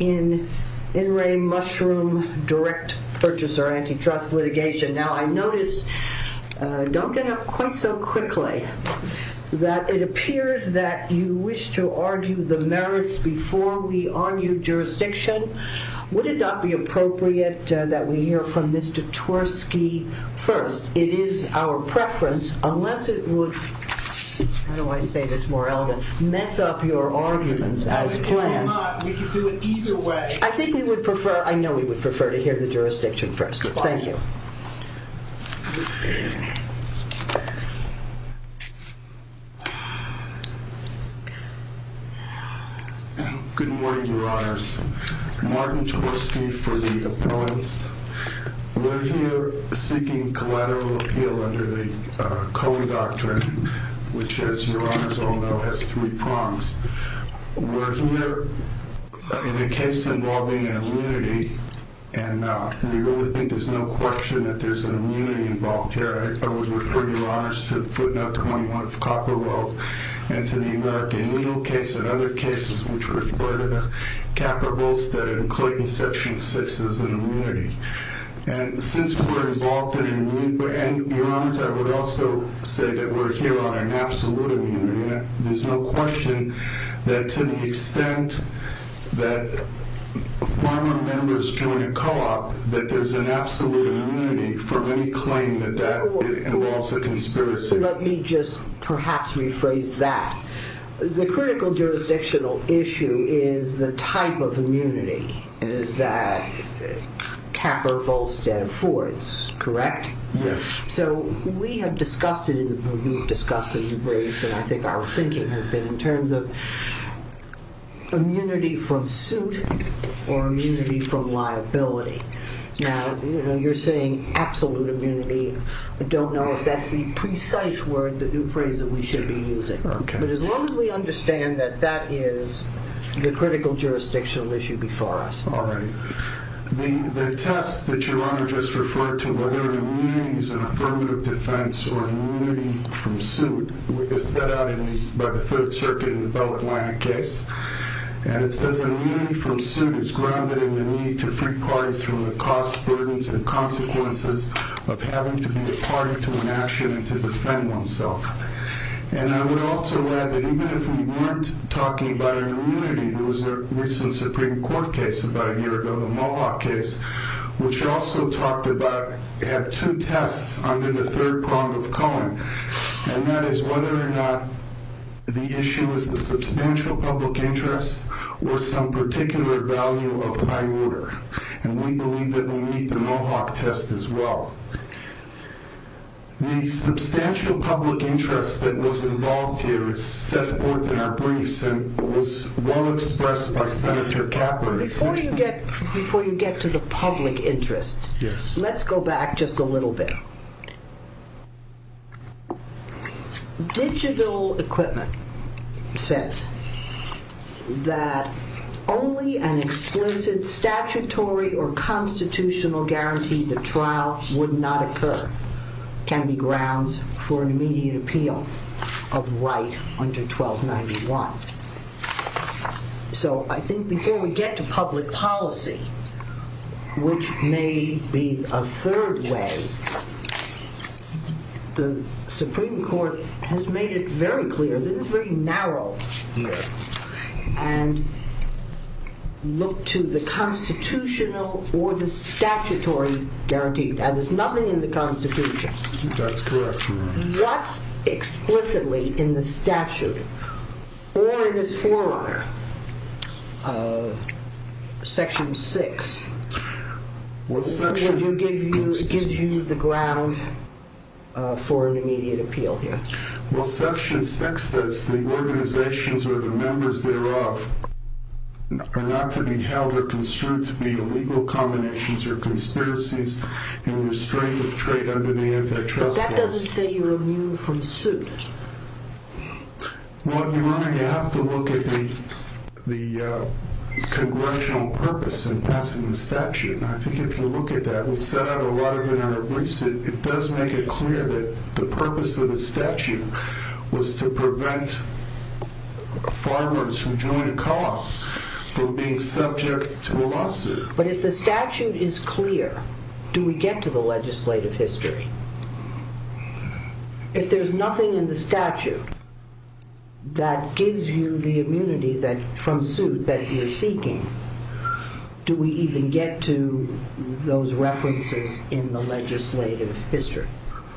in In Re Mushroom Direct Purchaser Antitrust Litigation. Now, I notice, uh, don't have quite so quickly that it appears that you wish to argue the merits before we argue jurisdiction. Would it not be appropriate, uh, that we hear from Mr. Tversky first? It is our preference, unless it would, how do I say this more eloquently, mess up your arguments as planned. If you do not, we can do it either way. I think we would prefer, I know we would prefer to hear the jurisdiction first. Thank you. Goodbye. Good morning, your honors. Martin Tversky for the appellants. We're here seeking collateral appeal under the, uh, Coey Doctrine, which, as your honors all know, has three prongs. We're here in a case involving an immunity, and, uh, we really think there's no question that there's an immunity involved here. I always refer your honors to footnote 21 of Copper Road and to the American Needle case and other cases which refer to the capitals that include in section six as an immunity. And since we're involved in an immunity, and your honors, I would also say that we're here on an absolute immunity. There's no question that to the extent that former members join a co-op, that there's an absolute immunity for any claim that that involves a conspiracy. Let me just perhaps rephrase that. The critical jurisdictional issue is the type of immunity that Capra Volstead affords, correct? Yes. So we have discussed it, we've discussed it in briefs, and I think our thinking has been in terms of immunity from suit or immunity from liability. Now, you know, you're saying absolute immunity. I don't know if that's the precise word, the phrase that we should be using. Okay. But as long as we understand that that is the critical jurisdictional issue before us. All right. The test that your honor just referred to, whether immunity is an affirmative defense or immunity from suit, is set out by the Third Circuit in the Bell Atlantic case. And it says that immunity from suit is grounded in the need to free parties from the costs, burdens, and consequences of having to be a party to an action and to defend oneself. And I would also add that even if we weren't talking about immunity, there was a recent Supreme Court case about a year ago, the Mohawk case, which also talked about, had two tests under the third prong of Cohen, and that is whether or not the issue is a substantial public interest or some particular value of high order. And we believe that we meet the Mohawk test as well. The substantial public interest that was involved here is set forth in our briefs and was well expressed by Senator Caput. Before you get to the public interest, let's go back just a little bit. Digital equipment said that only an explicit statutory or constitutional guarantee the trial would not occur can be grounds for an immediate appeal of right under 1291. So I think before we get to public policy, which may be a third way, the Supreme Court has made it very clear, this is very narrow here, and look to the constitutional or the statutory guarantee. There's nothing in the Constitution. That's correct. What explicitly in the statute or in its forerunner, Section 6, would give you the ground for an immediate appeal here? Well, Section 6 says the organizations or the members thereof are not to be held or construed to be illegal combinations or conspiracies in restraint of trade under the antitrust laws. That doesn't say you're immune from suit. Well, Your Honor, you have to look at the congressional purpose in passing the statute. I think if you look at that, we set out a lot of it in our briefs. It does make it clear that the purpose of the statute was to prevent farmers from joining a co-op from being subject to a lawsuit. But if the statute is clear, do we get to the legislative history? If there's nothing in the statute that gives you the immunity from suit that you're seeking, do we even get to those references in the legislative history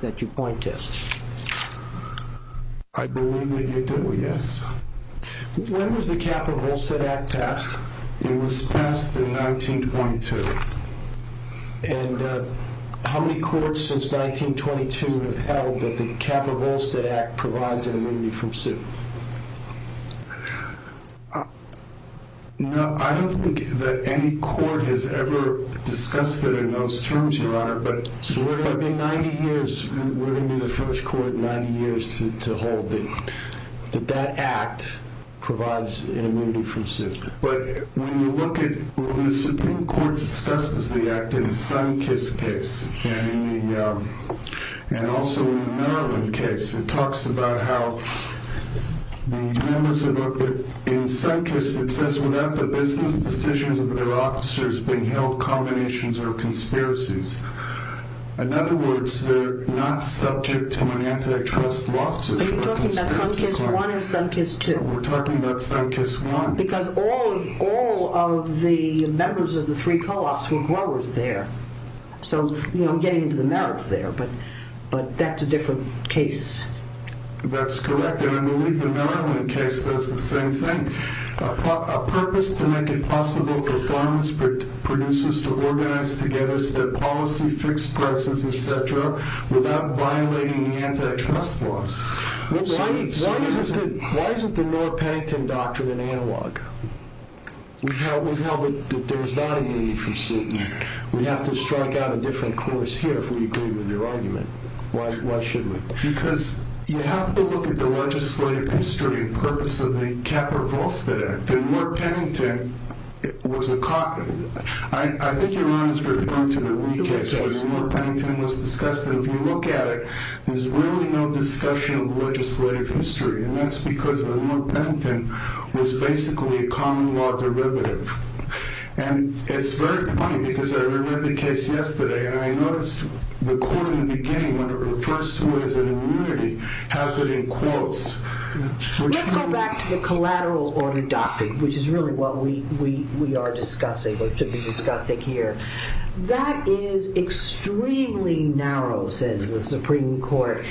that you point to? I believe that you do, yes. When was the Kappa-Volstead Act passed? It was passed in 1922. And how many courts since 1922 have held that the Kappa-Volstead Act provides an immunity from suit? No, I don't think that any court has ever discussed it in those terms, Your Honor. So we're going to be 90 years. We're going to be the first court in 90 years to hold that that act provides an immunity from suit. But when you look at... When the Supreme Court discusses the act in the Sunkist case and also in the Maryland case, it talks about how the members of... In Sunkist, it says, without the business decisions of their officers being held, combinations are conspiracies. In other words, they're not subject to an antitrust lawsuit. Are you talking about Sunkist I or Sunkist II? We're talking about Sunkist I. Because all of the members of the three co-ops were growers there. So, you know, I'm getting into the merits there, but that's a different case. That's correct, and I believe the Maryland case says the same thing. A purpose to make it possible for farmers, producers to organize together their policy, fixed prices, etc., without violating the antitrust laws. Why isn't the Moore-Pennington doctrine an analog? We've held that there's not an immunity from suit. We'd have to strike out a different course here if we agree with your argument. Why should we? Because you have to look at the legislative history and purpose of the Capper-Volstead Act. The Moore-Pennington was a... I think you're on as we're going to the wheat case. The Moore-Pennington was discussed, and if you look at it, there's really no discussion of legislative history, and that's because the Moore-Pennington was basically a common law derivative. And it's very funny, because I read the case yesterday, and I noticed the court in the beginning, when it refers to it as an immunity, has it in quotes. Let's go back to the collateral order doctrine, which is really what we are discussing, or should be discussing here. That is extremely narrow, says the Supreme Court,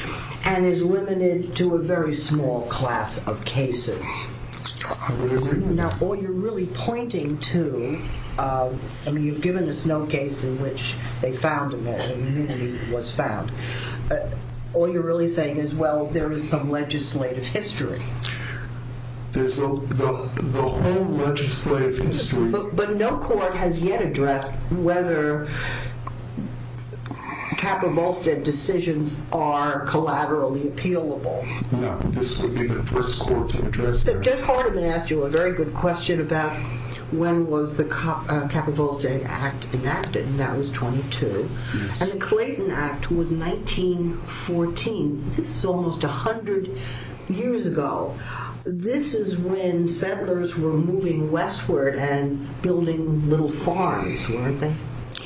and is limited to a very small class of cases. Now, all you're really pointing to... I mean, you've given us no case in which they found immunity, and it was found. All you're really saying is, well, there is some legislative history. There's the whole legislative history. But no court has yet addressed whether Kappa-Volstead decisions are collaterally appealable. No, this would be the first court to address that. Judge Hardiman asked you a very good question about when was the Kappa-Volstead Act enacted, and that was 22, and the Clayton Act was 1914. This is almost 100 years ago. This is when settlers were moving westward, and building little farms, weren't they?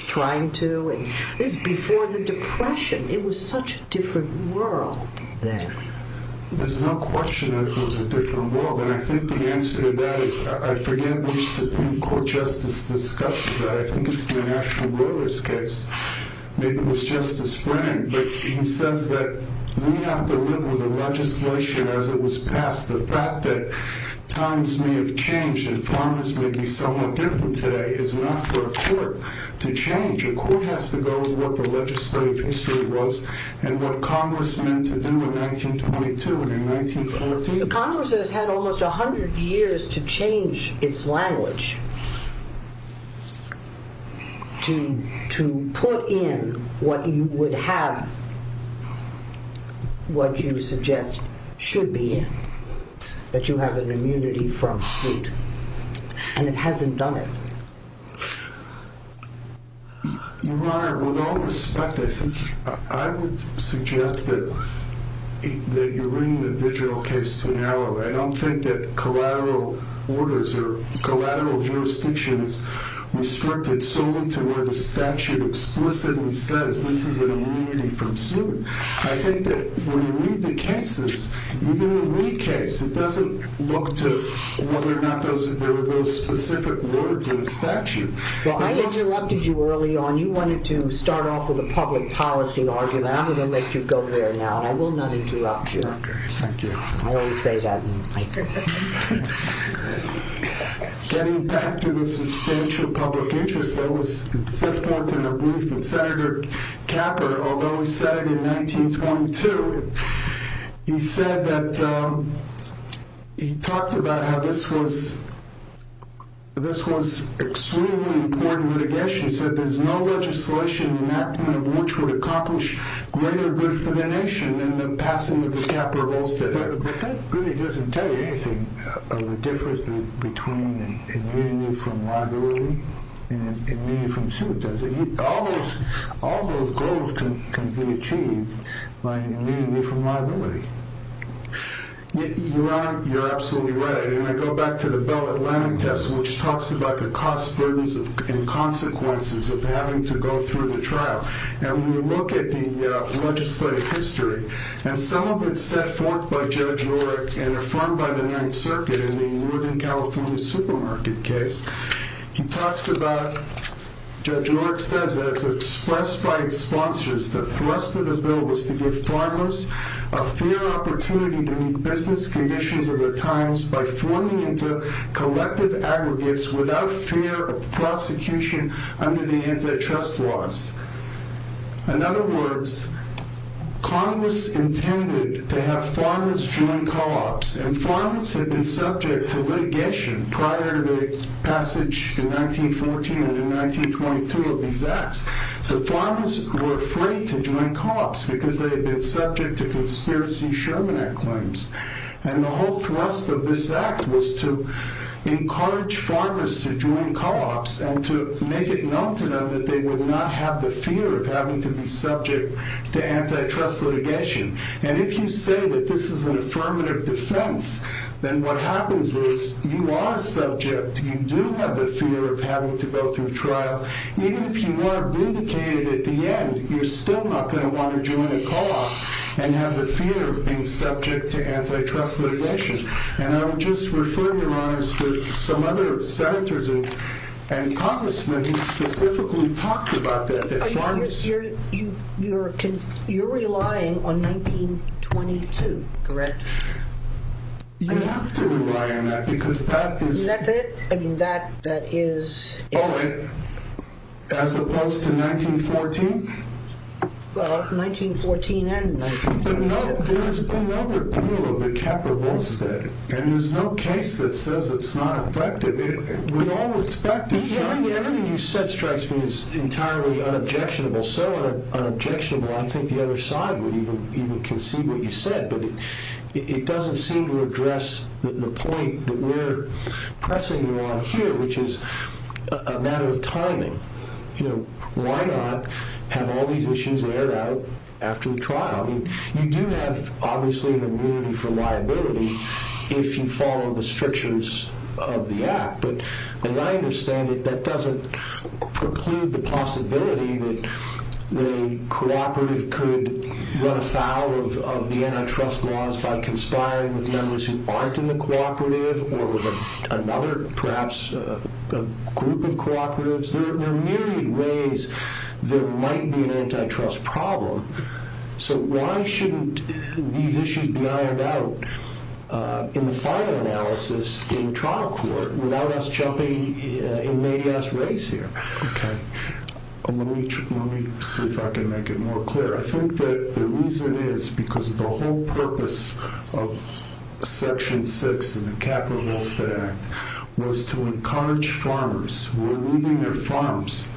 Trying to... This is before the Depression. It was such a different world then. There's no question that it was a different world, and I think the answer to that is, I forget which Supreme Court justice discussed this, but I think it's the National Broilers case. Maybe it was Justice Brennan, but he says that we have to live with the legislation as it was passed. The fact that times may have changed, and farmers may be somewhat different today, is not for a court to change. A court has to go with what the legislative history was, and what Congress meant to do in 1922 and in 1914. The Congress has had almost 100 years to change its language, to put in what you would have, what you suggest should be in, that you have an immunity from suit. And it hasn't done it. Your Honor, with all respect, I would suggest that you bring the digital case to an end. I don't think that collateral orders or collateral jurisdiction is restricted solely to where the statute explicitly says this is an immunity from suit. I think that when you read the cases, even the Lee case, it doesn't look to whether or not there were those specific words in the statute. Well, I interrupted you early on. You wanted to start off with a public policy argument. I'm going to let you go there now, and I will not interrupt you. Thank you. I always say that. Getting back to the substantial public interest, there was Sifforth in a brief, and Senator Capper, although he said it in 1922, he said that, he talked about how this was, this was extremely important litigation. He said there's no legislation in that kind of which would accomplish greater good for the nation than the passing of the Capper-Volstead Act. But that really doesn't tell you anything of the difference between an immunity from liability and an immunity from suit, does it? All those goals can be achieved by an immunity from liability. You're absolutely right. And I go back to the Bellett-Lanning test, which talks about the costs, burdens, and consequences of having to go through the trial. And when you look at the legislative history, and some of it's set forth by Judge Oreck and affirmed by the Ninth Circuit in the Northern California supermarket case, he talks about, Judge Oreck says, as expressed by his sponsors, the thrust of the bill was to give farmers a fair opportunity to meet business conditions of their times by forming into collective aggregates without fear of prosecution under the antitrust laws. In other words, Congress intended and farmers had been subject to litigation prior to the passage in 1914 and in 1922 of these acts. The farmers were afraid to join co-ops because they had been subject to conspiracy Sherman Act claims. And the whole thrust of this act was to encourage farmers to join co-ops and to make it known to them that they would not have the fear of having to be subject to antitrust litigation. And if you say that this is an affirmative defense, then what happens is you are subject, you do have the fear of having to go through trial. Even if you are vindicated at the end, you're still not going to want to join a co-op and have the fear of being subject to antitrust litigation. And I would just refer your honors to some other senators and congressmen who specifically talked about that. You're relying on 1922, correct? I have to rely on that because that is... And that's it? I mean, that is... Oh, as opposed to 1914? Well, 1914 and 1922. But there has been no repeal of the Capra-Volstead. And there's no case that says it's not effective. With all respect, it's not... Everything you said strikes me as entirely unobjectionable. So unobjectionable, I don't think the other side would even conceive what you said. But it doesn't seem to address the point that we're pressing you on here, which is a matter of timing. Why not have all these issues aired out after the trial? I mean, you do have, obviously, an immunity for liability if you follow the strictures of the Act. But as I understand it, that doesn't preclude the possibility that a cooperative could run afoul of the antitrust laws by conspiring with members who aren't in the cooperative or with another, perhaps, group of cooperatives. There are myriad ways there might be an antitrust problem. So why shouldn't these issues be aired out in the final analysis in trial court without us jumping in Mayday's race here? Okay. Let me see if I can make it more clear. I think that the reason is because the whole purpose of Section 6 in the Capitalist Act was to encourage farmers who were leaving their farms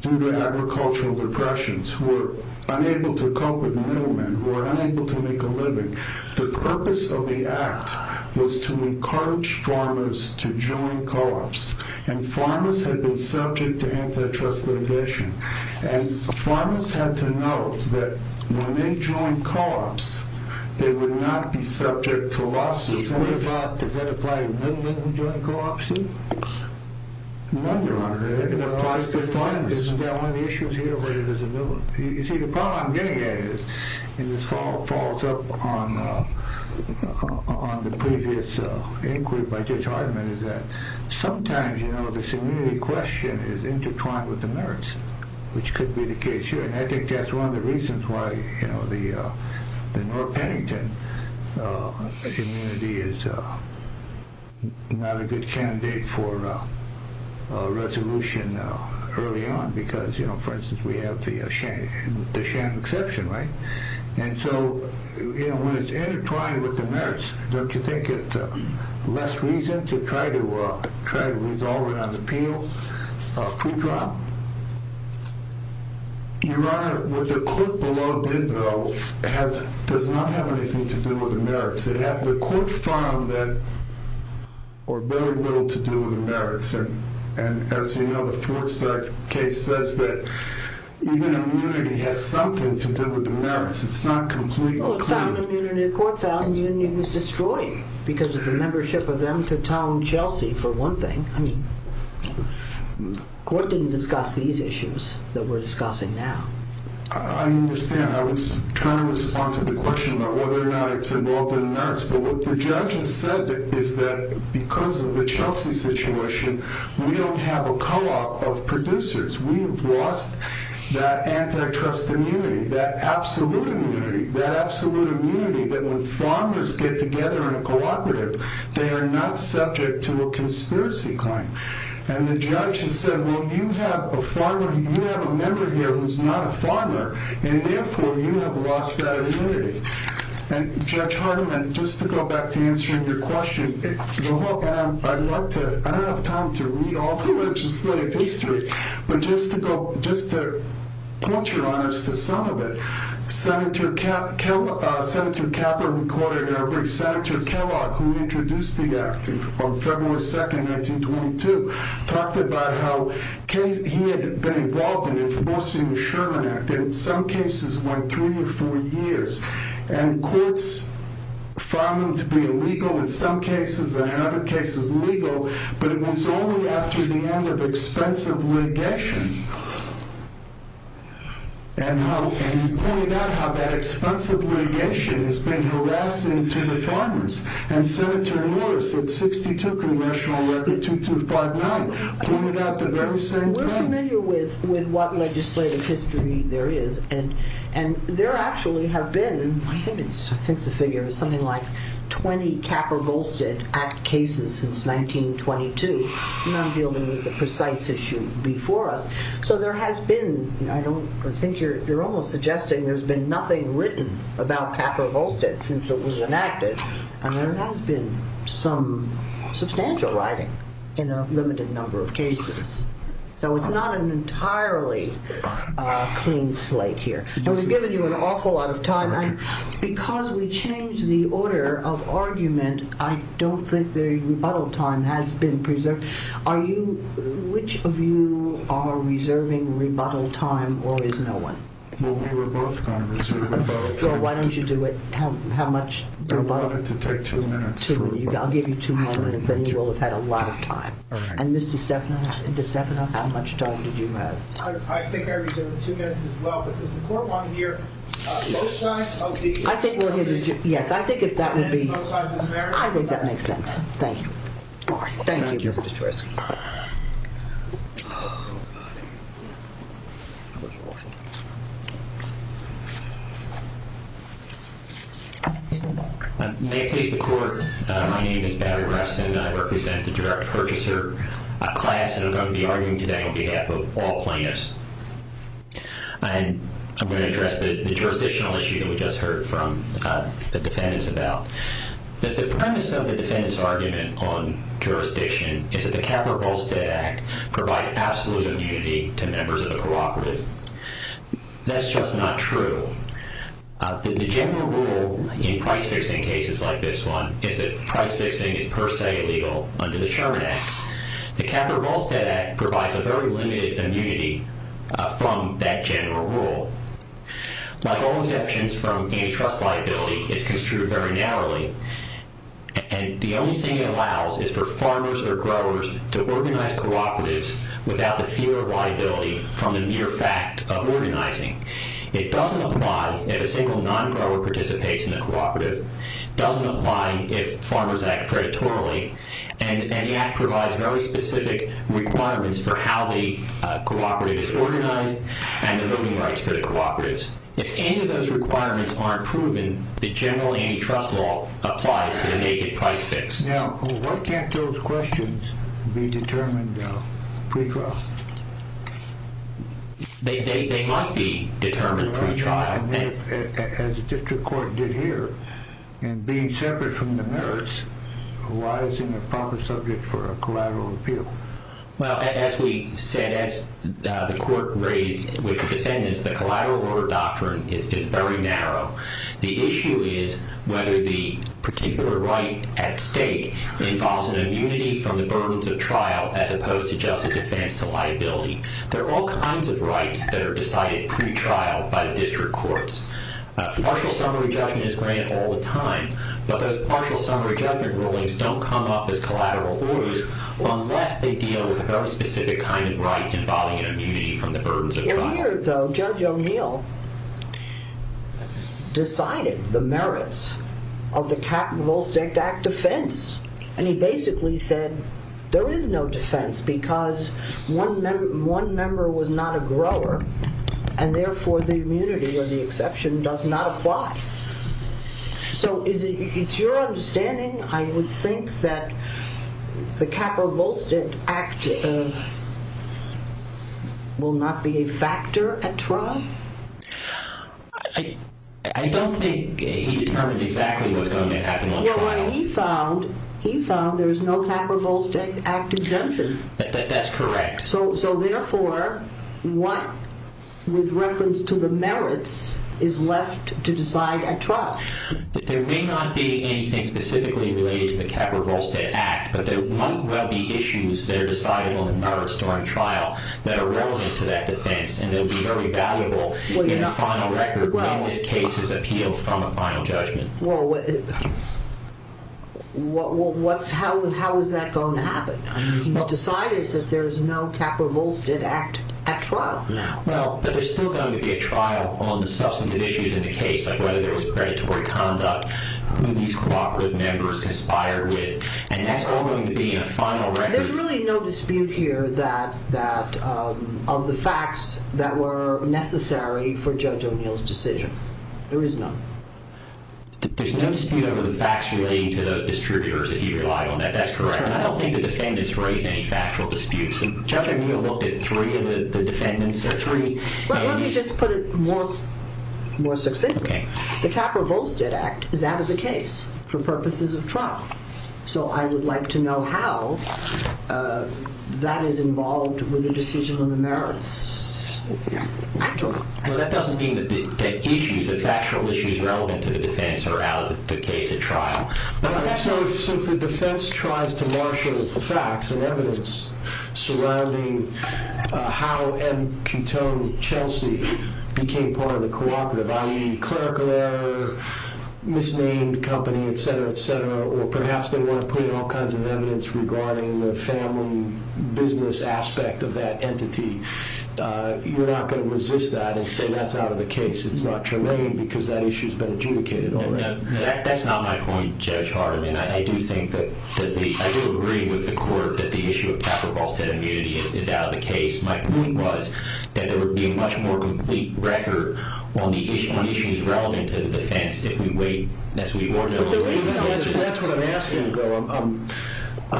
due to agricultural depressions, who were unable to cope with middlemen, who were unable to make a living. The purpose of the Act was to encourage farmers to join co-ops. And farmers had been subject to antitrust litigation. And farmers had to know that when they joined co-ops, they would not be subject to lawsuit. Does that apply to middlemen who joined co-ops, too? No, Your Honor. It applies to farmers. Isn't that one of the issues here where there's a middleman? You see, the problem I'm getting at is, and this follows up on the previous inquiry by Judge Hardiman, is that sometimes, you know, this immunity question is intertwined with the merits, which could be the case here. And I think that's one of the reasons why, you know, the North Pennington immunity is not a good candidate for a resolution early on. Because, you know, for instance, we have the sham exception, right? And so, you know, when it's intertwined with the merits, don't you think it's less reason to try to resolve it on appeal pre-trial? Your Honor, what the court below did, though, does not have anything to do with the merits. It had the court found that, or very little to do with the merits. And as you know, the Fort Stark case says that even immunity has something to do with the merits. It's not completely clear. The court found immunity was destroyed because of the membership of M. Katong Chelsea, for one thing. I mean, the court didn't discuss these issues that we're discussing now. I understand. I was trying to respond to the question about whether or not it's involved in the merits. But what the judge has said is that because of the Chelsea situation, we don't have a co-op of producers. We've lost that antitrust immunity, that absolute immunity, that when farmers get together in a cooperative, they are not subject to a conspiracy claim. And the judge has said, well, you have a member here who's not a farmer, and therefore you have lost that immunity. And, Judge Hardiman, just to go back to answering your question, I don't have time to read all the legislative history, but just to quote your honors to some of it, Senator Capa recorded a brief. Senator Kellogg, who introduced the act on February 2, 1922, talked about how he had been involved in it, mostly in the Sherman Act, and in some cases went three or four years. And courts found them to be illegal in some cases and in other cases legal, but it was only after the end of expensive litigation and he pointed out how that expensive litigation has been harassing to the farmers. And Senator Lewis, in 62 Congressional Record 2259, pointed out the very same thing. We're familiar with what legislative history there is, and there actually have been, I think the figure is something like 20 Capper-Golstad Act cases since 1922, not dealing with the precise issue before us. So there has been, I think you're almost suggesting there's been nothing written about Capper-Golstad since it was enacted, and there has been some substantial writing in a limited number of cases. So it's not an entirely clean slate here. And we've given you an awful lot of time. Because we changed the order of argument, and I don't think the rebuttal time has been preserved. Are you, which of you are reserving rebuttal time, or is no one? Well, we were both going to reserve rebuttal time. Well, why don't you do it? How much rebuttal? We wanted to take two minutes. I'll give you two more minutes, and you will have had a lot of time. And Ms. DiStefano, how much time did you have? I think I reserved two minutes as well, but does the court want to hear both sides of the argument? Yes, I think if that would be... Both sides of the argument? I think that makes sense. Thank you. Thank you. May it please the court, my name is Patrick Grafson, and I represent the direct purchaser class, and I'm going to be arguing today on behalf of all plaintiffs. And I'm going to address the jurisdictional issue that we just heard from the defendants about. The premise of the defendant's argument on jurisdiction is that the Capra-Volstead Act provides absolute immunity to members of the cooperative. That's just not true. The general rule in price-fixing cases like this one is that price-fixing is per se illegal under the Sherman Act. The Capra-Volstead Act provides a very limited immunity from that general rule. Like all exceptions from any trust liability, it's construed very narrowly, and the only thing it allows is for farmers or growers to organize cooperatives without the fear of liability from the mere fact of organizing. It doesn't apply if a single non-grower participates in the cooperative, doesn't apply if farmers act predatorily, and the Act provides very specific requirements for how the cooperative is organized and the voting rights for the cooperatives. If any of those requirements aren't proven, the general antitrust law applies to the naked price-fix. Now, why can't those questions be determined pre-trial? They might be determined pre-trial. As the district court did here, in being separate from the merits, why isn't it a proper subject for a collateral appeal? Well, as we said, as the court raised with the defendants, the collateral order doctrine is very narrow. The issue is whether the particular right at stake involves an immunity from the burdens of trial as opposed to just a defense to liability. There are all kinds of rights that are decided pre-trial by the district courts. Partial summary judgment is granted all the time, but those partial summary judgment rulings don't come up as collateral orders unless they deal with a very specific kind of right involving an immunity from the burdens of trial. Well, here, though, Judge O'Neill decided the merits of the Capitals Act defense, and he basically said there is no defense because one member was not a grower, and therefore the immunity or the exception does not apply. So it's your understanding, I would think, that the Capra-Volstead Act will not be a factor at trial? I don't think he determined exactly what's going to happen on trial. Well, he found there's no Capra-Volstead Act exemption. That's correct. So therefore, what, with reference to the merits, is left to decide at trial? There may not be anything specifically related to the Capra-Volstead Act, but there might well be issues that are decided on the merits during trial that are relevant to that defense, and they'll be very valuable in the final record when this case is appealed from a final judgment. Well, how is that going to happen? He's decided that there's no Capra-Volstead Act at trial. Well, but they're still going to get trial on the substantive issues in the case, like whether there was predatory conduct, who these cooperative members conspired with, and that's all going to be in a final record. There's really no dispute here of the facts that were necessary for Judge O'Neill's decision. There is none. There's no dispute over the facts relating to those distributors that he relied on. That's correct. I don't think the defendants raise any factual disputes. Judge O'Neill looked at three of the defendants, or three. Let me just put it more succinctly. The Capra-Volstead Act is out of the case for purposes of trial. So I would like to know how that is involved with the decision on the merits. Well, that doesn't mean that the issues, the factual issues relevant to the defense are out of the case at trial. But I would say, since the defense tries to marshal the facts and evidence surrounding how M. Cutone Chelsea became part of the cooperative, i.e. clerical error, misnamed company, et cetera, et cetera, or perhaps they want to put in all kinds of evidence regarding the family business aspect of that entity, you're not going to resist that and say that's out of the case. It's not tremendous because that issue has been adjudicated already. That's not my point, Judge Hart. I mean, I do agree with the court that the issue of Capra-Volstead immunity is out of the case. My point was that there would be a much more complete record on the issues relevant to the defense if we wait, as we ordinarily wait. That's what I'm asking, though.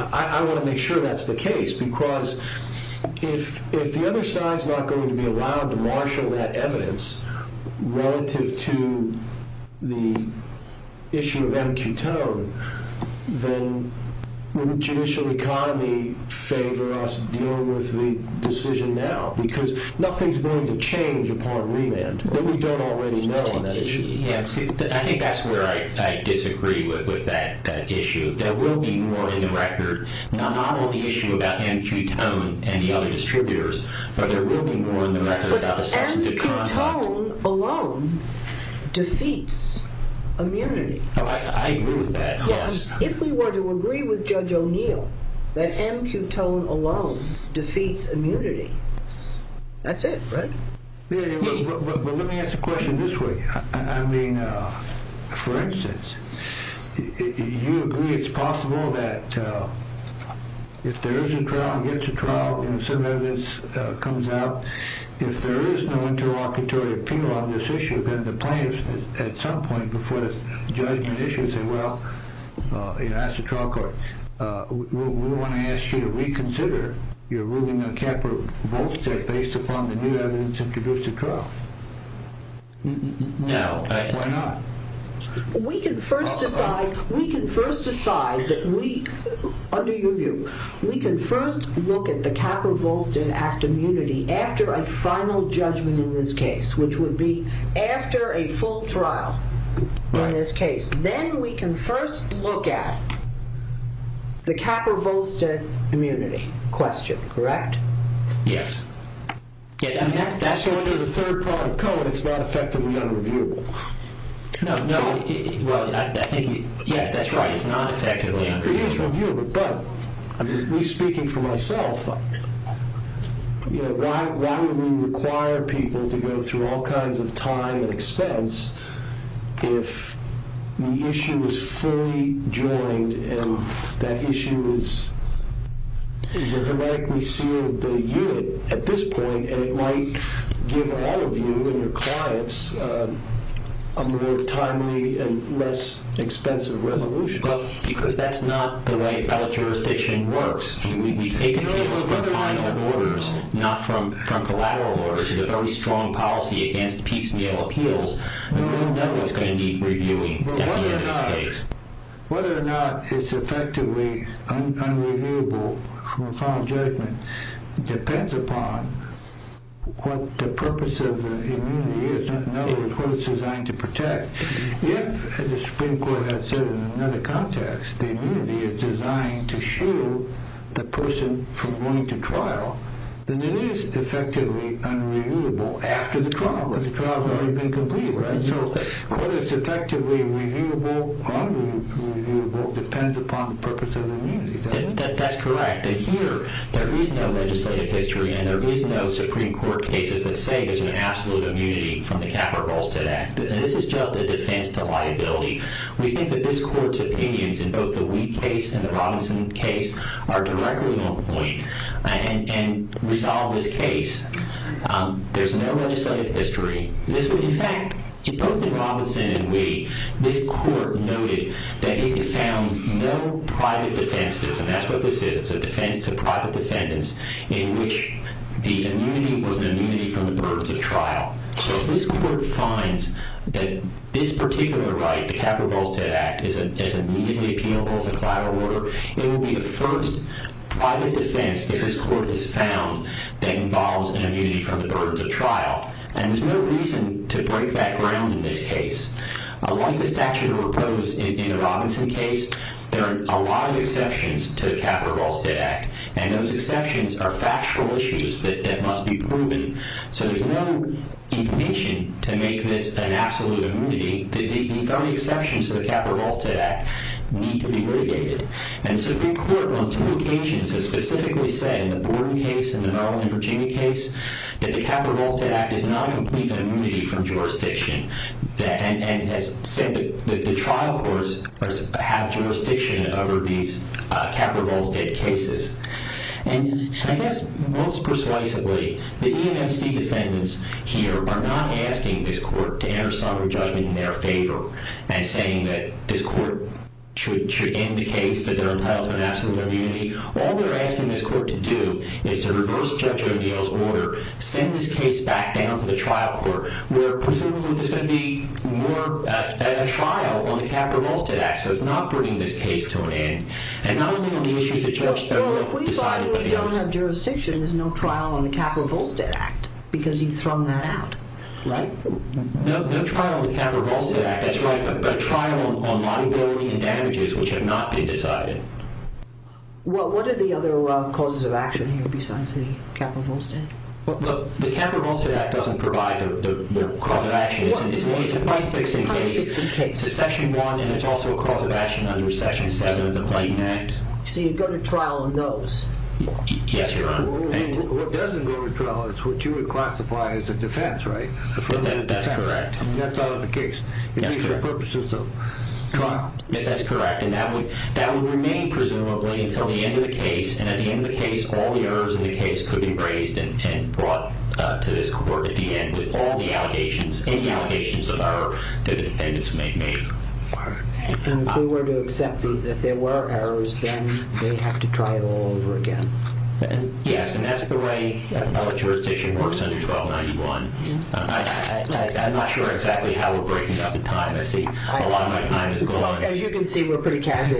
I want to make sure that's the case because if the other side's not going to be allowed to marshal that evidence relative to the issue of M. Cutone, then wouldn't judicial economy favor us dealing with the decision now? Because nothing's going to change upon remand. We don't already know on that issue. I think that's where I disagree with that issue. There will be more in the record, not only the issue about M. Cutone and the other distributors, but there will be more in the record about the substantive conduct. But M. Cutone alone defeats immunity. I agree with that, yes. If we were to agree with Judge O'Neill that M. Cutone alone defeats immunity, that's it, right? But let me ask a question this way. I mean, for instance, you agree it's possible that if there is a trial and gets a trial and some evidence comes out, if there is no interlocutory appeal on this issue, then the plaintiffs at some point before the judgment issue say, well, ask the trial court. We want to ask you to reconsider your ruling on Capra-Volstead based upon the new evidence introduced at trial. Why not? We can first decide that we, under your view, we can first look at the Capra-Volstead Act of Immunity after a final judgment in this case, which would be after a full trial in this case. Then we can first look at the Capra-Volstead immunity question, correct? Yes. That's sort of the third part of Cohen. It's not effectively unreviewable. No. Well, I think you're right. That's right. It's not effectively unreviewable. It is reviewable. But I'm speaking for myself. Why would we require people to go through all kinds of time and expense if the issue is fully joined and that issue is a hermetically sealed unit at this point and it might give all of you and your clients a more timely and less expensive resolution? Because that's not the way appellate jurisdiction works. We take appeals from final orders, not from collateral orders. There's a very strong policy against piecemeal appeals. We don't know what's going to need reviewing in this case. Whether or not it's effectively unreviewable from a final judgment depends upon what the purpose of the immunity is, in other words, what it's designed to protect. If, as the Supreme Court has said in another context, the immunity is designed to shield the person from going to trial, then it is effectively unreviewable after the trial has already been completed. So whether it's effectively reviewable or unreviewable depends upon the purpose of the immunity. That's correct. Here, there is no legislative history and there is no Supreme Court cases that say there's an absolute immunity from the Capra-Ballstead Act. This is just a defense to liability. We think that this Court's opinions in both the Wee case and the Robinson case are directly on point. And resolve this case. There's no legislative history. In fact, in both the Robinson and Wee, this Court noted that it found no private defenses, and that's what this is. It's a defense to private defendants in which the immunity was an immunity from the burdens of trial. So if this Court finds that this particular right, the Capra-Ballstead Act, is immediately appealable as a collateral order, it will be the first private defense that this Court has found that involves an immunity from the burdens of trial. And there's no reason to break that ground in this case. Unlike the statute of repose in the Robinson case, there are a lot of exceptions to the Capra-Ballstead Act, and those exceptions are factual issues that must be proven. So there's no information to make this an absolute immunity. The very exceptions to the Capra-Ballstead Act need to be litigated. And the Supreme Court on two occasions has specifically said in the Borden case and the Maryland and Virginia case that the Capra-Ballstead Act is not a complete immunity from jurisdiction, and has said that the trial courts have jurisdiction over these Capra-Ballstead cases. And I guess most persuasively, the EMFC defendants here are not asking this Court to enter somber judgment in their favor and saying that this Court should end the case that they're entitled to an absolute immunity. All they're asking this Court to do is to reverse Judge O'Dell's order, send this case back down to the trial court, where presumably there's going to be more trial on the Capra-Ballstead Act. So it's not bringing this case to an end, and not only on the issues that Judge O'Dell decided, but the others. Well, if we finally don't have jurisdiction, there's no trial on the Capra-Ballstead Act, because he'd thrown that out, right? No trial on the Capra-Ballstead Act, that's right, but a trial on liability and damages which have not been decided. Well, what are the other causes of action here besides the Capra-Ballstead Act? Look, the Capra-Ballstead Act doesn't provide the cause of action. It's a price-fixing case. It's a Section 1, and it's also a cause of action under Section 7 of the Blatant Act. Yes, Your Honor. And what doesn't go to trial is what you would classify as a defense, right? That's correct. I mean, that's out of the case. It's for purposes of trial. That's correct, and that would remain presumably until the end of the case, and at the end of the case, all the errors in the case could be raised and brought to this court at the end with all the allegations, any allegations that the defendants may have made. And if we were to accept that there were errors, then they'd have to try it all over again. Yes, and that's the way our jurisdiction works under 1291. I'm not sure exactly how we're breaking up the time. I see a lot of my time has gone. As you can see, we're pretty casual.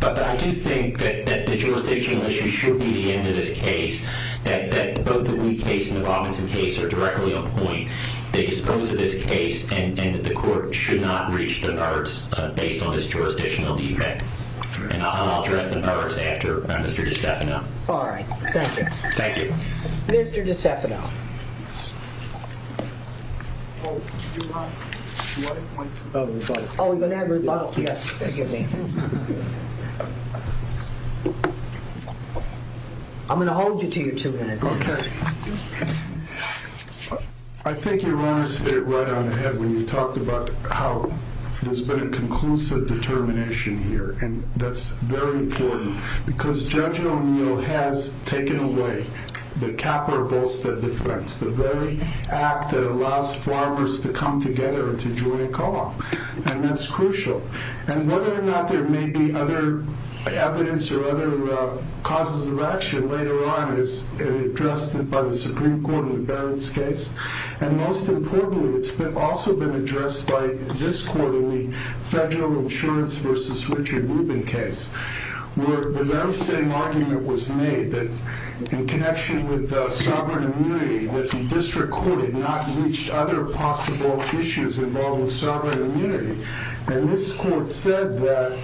But I do think that the jurisdictional issue should be the end of this case, that both the Wee case and the Robinson case are directly on point. They dispose of this case, and the court should not reach the merits based on this jurisdictional defect. And I'll address the merits after Mr. DiStefano. All right. Thank you. Thank you. Mr. DiStefano. Do you want a point of rebuttal? Oh, we're going to have a rebuttal. Yes, forgive me. I'm going to hold you to your two minutes. I think you were honest right on ahead when you talked about how there's been a conclusive determination here, and that's very important, because Judge O'Neill has taken away the CAPA or Volstead defense, the very act that allows farmers to come together and to join a call, and that's crucial. And whether or not there may be other evidence or other causes of action later on is addressed by the Supreme Court in Barrett's case. And most importantly, it's also been addressed by this court in the Federal Insurance v. Richard Rubin case, where the very same argument was made that in connection with sovereign immunity that the district court had not reached other possible issues involving sovereign immunity. And this court said that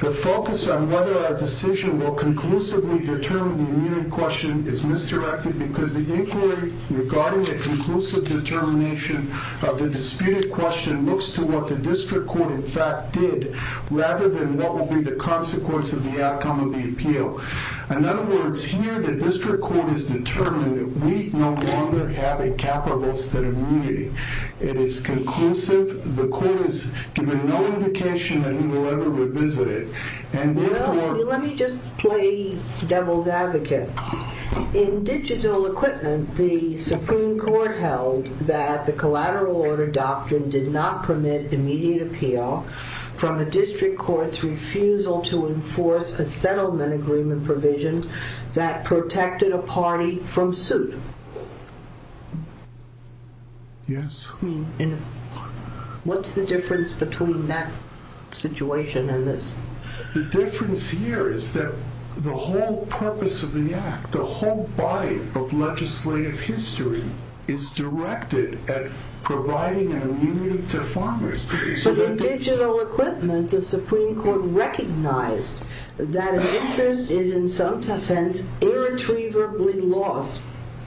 the focus on whether a decision will conclusively determine the immunity question is misdirected because the inquiry regarding the conclusive determination of the disputed question looks to what the district court in fact did rather than what will be the consequence of the outcome of the appeal. In other words, here the district court has determined that we no longer have a CAPA or Volstead immunity. It is conclusive. The court has given no indication that we will ever revisit it. And therefore... Well, let me just play devil's advocate. In digital equipment, the Supreme Court held that the collateral order doctrine did not permit immediate appeal from a district court's refusal to enforce a settlement agreement provision that protected a party from suit. Yes. What's the difference between that situation and this? The difference here is that the whole purpose of the act, the whole body of legislative history is directed at providing an immunity to farmers. In digital equipment, the Supreme Court recognized that an interest is in some sense irretrievably lost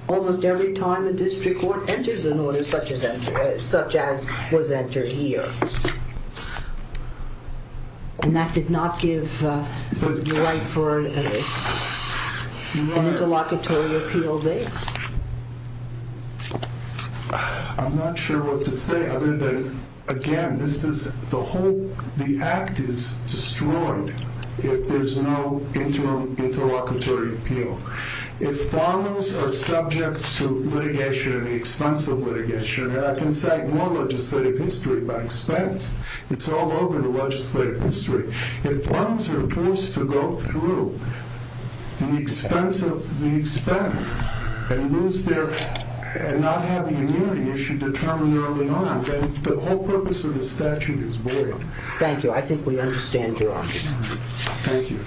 almost every time a district court enters an order such as was entered here. And that did not give the right for an interlocutory appeal there? I'm not sure what to say other than, again, the act is destroyed if there's no interim interlocutory appeal. If farmers are subject to litigation at the expense of litigation, and I can say more legislative history, by expense, it's all over the legislative history. If farmers are forced to go through the expense and not have an immunity issue determined early on, then the whole purpose of the statute is void. Thank you. I think we understand your argument. Thank you. Thank you.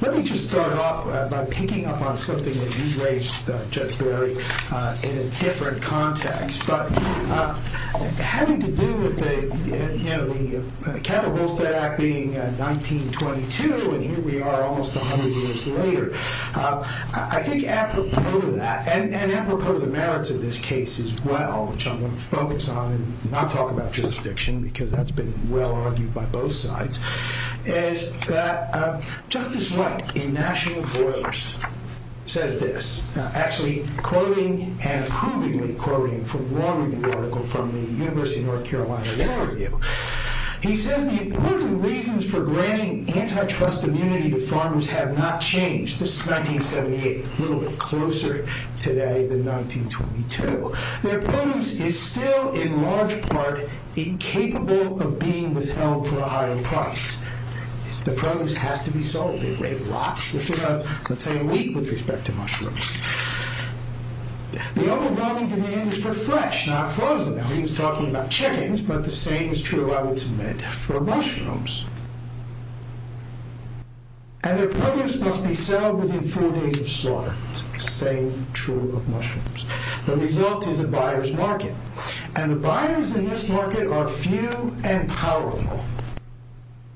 Let me just start off by picking up on something that you raised, Judge Barry, in a different context. But having to do with the Capital Volstead Act being 1922, and here we are almost 100 years later, I think apropos to that, and apropos to the merits of this case as well, which I'm going to focus on and not talk about jurisdiction, because that's been well-argued by both sides, is that Justice White, in National Voters, says this. Actually, quoting and approvingly quoting from a law review article from the University of North Carolina Law Review. He says the important reasons for granting antitrust immunity to farmers have not changed. This is 1978. A little bit closer today than 1922. Their produce is still, in large part, incapable of being withheld for a higher price. The produce has to be sold. They rate lots, if you have, let's say, a week with respect to mushrooms. The overwhelming demand is for fresh, not frozen. Now, he was talking about chickens, but the same is true, I would submit, for mushrooms. And their produce must be sold within four days of slaughter. The same is true of mushrooms. The result is a buyer's market, and the buyers in this market are few and powerful.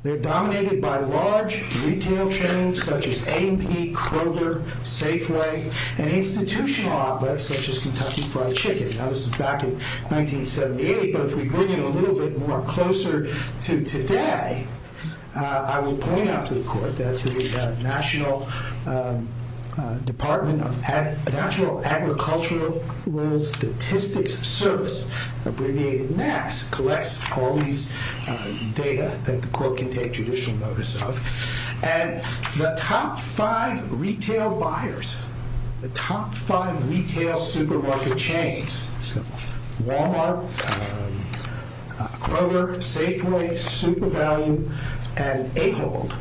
They're dominated by large retail chains, such as A&P, Kroger, Safeway, and institutional outlets, such as Kentucky Fried Chicken. Now, this is back in 1978, but if we bring it a little bit more closer to today, I will point out to the court that the National Department of Natural Agricultural Statistics Service, abbreviated NASS, collects all these data that the court can take judicial notice of. And the top five retail buyers, the top five retail supermarket chains, Walmart, Kroger, Safeway, Super Value, and A-Hold,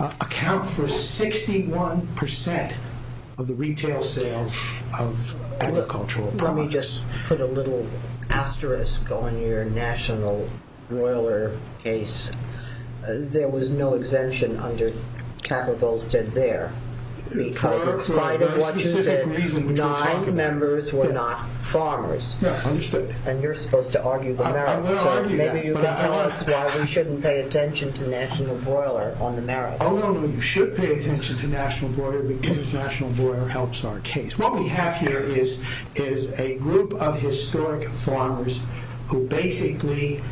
account for 61% of the retail sales of agricultural products. Let me just put a little asterisk on your national broiler case. There was no exemption under capital that stood there. Because in spite of what you said, nine members were not farmers. And you're supposed to argue the merits. So maybe you can tell us why we shouldn't pay attention to national broiler on the merits. Oh, no, no. You should pay attention to national broiler because national broiler helps our case. What we have here is a group of historic farmers who basically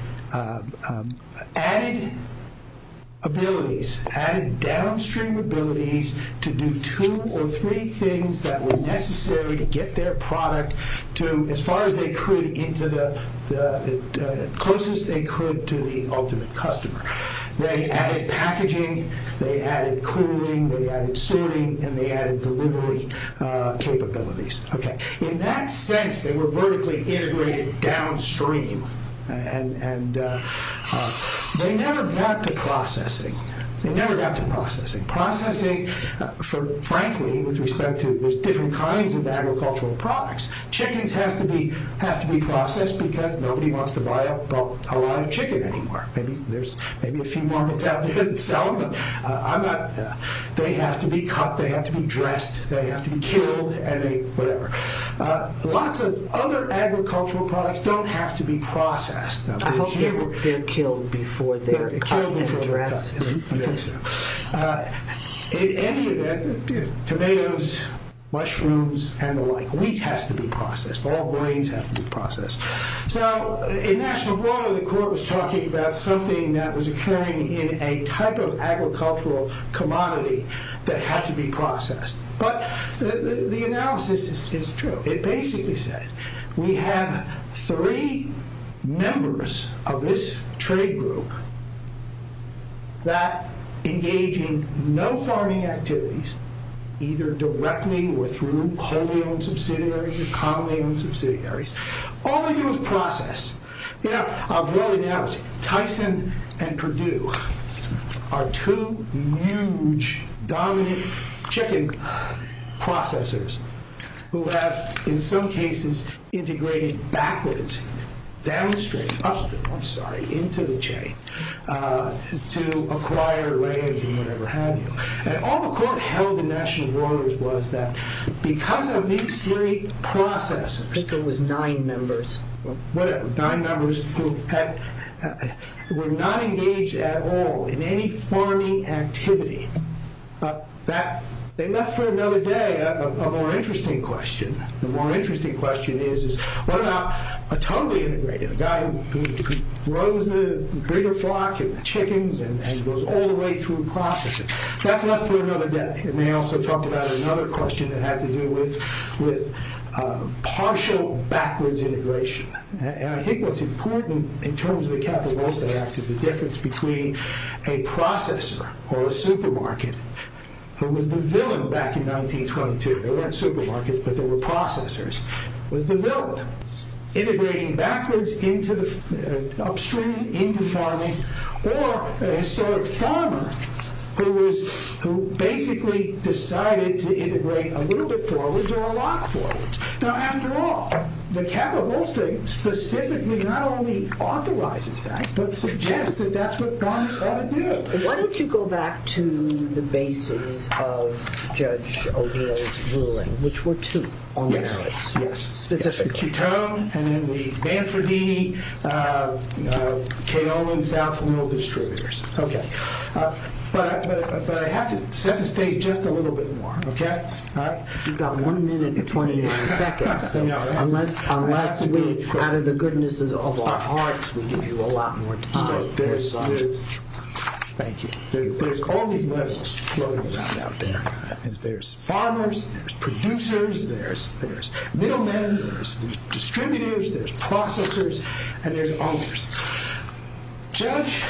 added abilities, added downstream abilities, to do two or three things that were necessary to get their product to as far as they could into the closest they could to the ultimate customer. They added packaging. They added cooling. They added sorting. And they added delivery capabilities. Okay. In that sense, they were vertically integrated downstream. And they never got to processing. They never got to processing. Processing, frankly, with respect to there's different kinds of agricultural products. Chickens have to be processed because nobody wants to buy a lot of chicken anymore. Maybe there's a few markets out there that sell them. They have to be cut. They have to be dressed. They have to be killed and whatever. Lots of other agricultural products don't have to be processed. I hope they're killed before they're cut and dressed. I think so. In any event, tomatoes, mushrooms, and the like. Wheat has to be processed. All grains have to be processed. So, in National Broadway, the court was talking about something that was occurring in a type of agricultural commodity that had to be processed. But the analysis is true. It basically said, we have three members of this trade group that engage in no farming activities either directly or through wholly-owned subsidiaries or commonly-owned subsidiaries. All they do is process. You know, I've well-analyzed it. Tyson and Purdue are two huge, dominant chicken processors who have, in some cases, integrated backwards, downstream, upstream, I'm sorry, into the chain to acquire land and whatever have you. And all the court held in National Broadway was that because of these three processors... I think there was nine members. Whatever. Nine members who were not engaged at all in any farming activity. They left for another day a more interesting question. The more interesting question is, what about a totally integrated guy who grows the bigger flock and the chickens and goes all the way through processing? That's enough for another day. And they also talked about another question that had to do with partial backwards integration. And I think what's important in terms of the Capital Goals Act is the difference between a processor or a supermarket who was the villain back in 1922. There weren't supermarkets, but there were processors. It was the villain integrating backwards, upstream, into farming, or a historic farmer who basically decided to integrate a little bit forwards or a lot forwards. Now, after all, the Capital Goals Act specifically not only authorizes that, but suggests that that's what farmers ought to do. Why don't you go back to the basis of Judge O'Neill's ruling, which were two on the merits. Yes, yes. Specifically. Chitone, and then we, Banfordini, Kaolin South Oil Distributors. Okay. But I have to set the stage just a little bit more. Okay? You've got one minute and 29 seconds, so unless we, out of the goodness of our hearts, we give you a lot more time. Thank you. There's all these labels floating around out there. There's farmers, there's producers, there's middlemen, there's distributors, there's processors, and there's others. Judge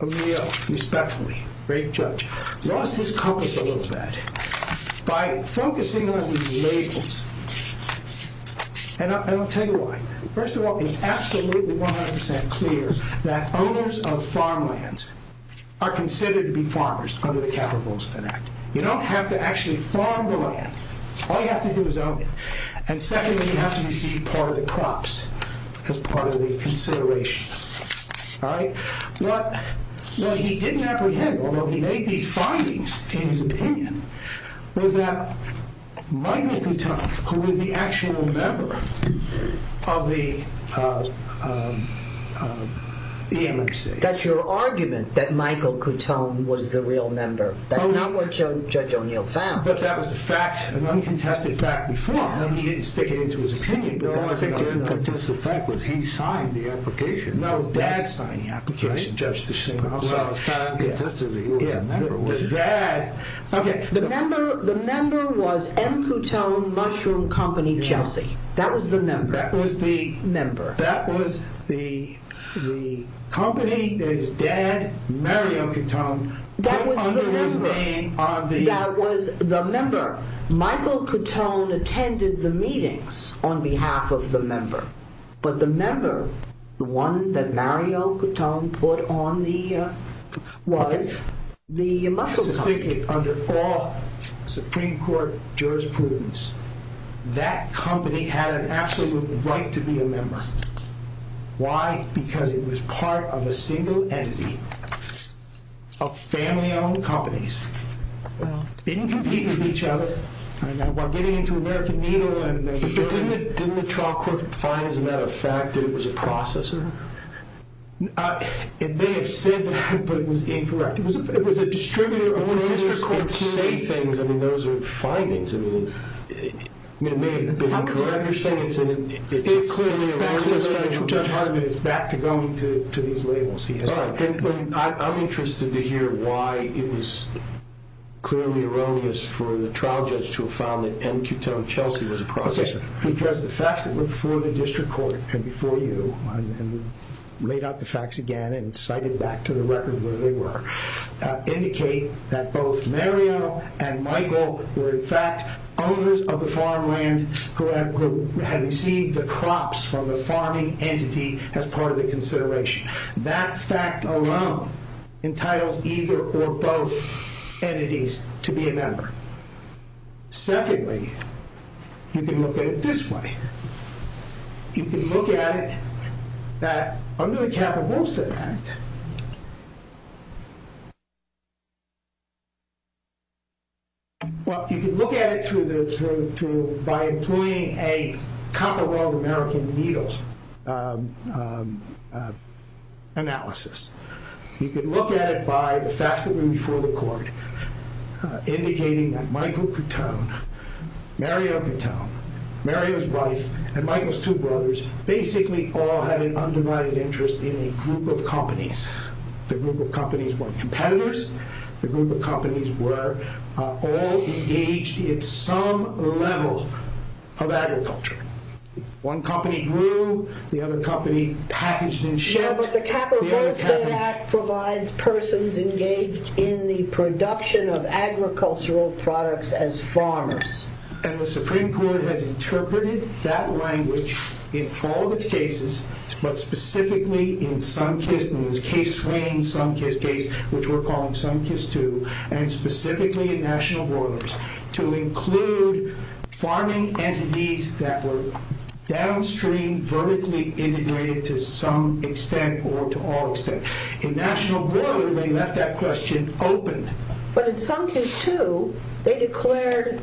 O'Neill, respectfully, great judge, lost his compass a little bit by focusing on these labels. And I'll tell you why. First of all, it's absolutely 100% clear that owners of farmlands are considered to be farmers under the Capital Rules of the Act. You don't have to actually farm the land. All you have to do is own it. And secondly, you have to receive part of the crops as part of the consideration. All right? What he didn't apprehend, although he made these findings in his opinion, was that Michael Chitone, who was the actual member of the EMXA... That's your argument, that Michael Chitone was the real member. That's not what Judge O'Neill found. But that was a fact, an uncontested fact before. He didn't stick it into his opinion. The only thing that was an uncontested fact was he signed the application. No, it was Dad signing the application. Well, it's not uncontested that he was a member, was it? The member was M. Chitone Mushroom Company, Chelsea. That was the member. That was the... Member. That was the company that his dad, Mario Chitone, put under his name on the... That was the member. Michael Chitone attended the meetings on behalf of the member. But the member, the one that Mario Chitone put on the... was the Mushroom Company. Under all Supreme Court jurisprudence, that company had an absolute right to be a member. Why? Because it was part of a single entity of family-owned companies. Well... Didn't compete with each other. While getting into American Needle and... But didn't the trial court find, as a matter of fact, that it was a processor? It may have said that, but it was incorrect. It was a distributor-owned district court company. I mean, those are findings. I mean, it may have been incorrect. You're saying it's... It's back to going to these labels. I'm interested to hear why it was clearly erroneous for the trial judge to have found that M. Chitone Chelsea was a processor. Because the facts that were before the district court and before you, and we laid out the facts again and cited back to the record where they were, indicate that both Mario and Michael were in fact owners of the farmland who had received the crops from the farming entity as part of the consideration. That fact alone entitles either or both entities to be a member. Secondly, you can look at it this way. You can look at it that, under the Capital Homestead Act... Well, you can look at it by employing a comparable American needle analysis. You can look at it by the facts that were before the court indicating that Michael Chitone, Mario Chitone, Mario's wife, and Michael's two brothers in a group of companies. The group of companies weren't competitors. The group of companies were all engaged in some level of agriculture. One company grew, the other company packaged and shipped. Yeah, but the Capital Homestead Act provides persons engaged in the production of agricultural products as farmers. And the Supreme Court has interpreted that language in all of its cases, but specifically in Sunkist, in the Case Swain-Sunkist case, which we're calling Sunkist II, and specifically in National Broilers, to include farming entities that were downstream, vertically integrated to some extent or to all extent. In National Broilers, they left that question open. But in Sunkist II, they declared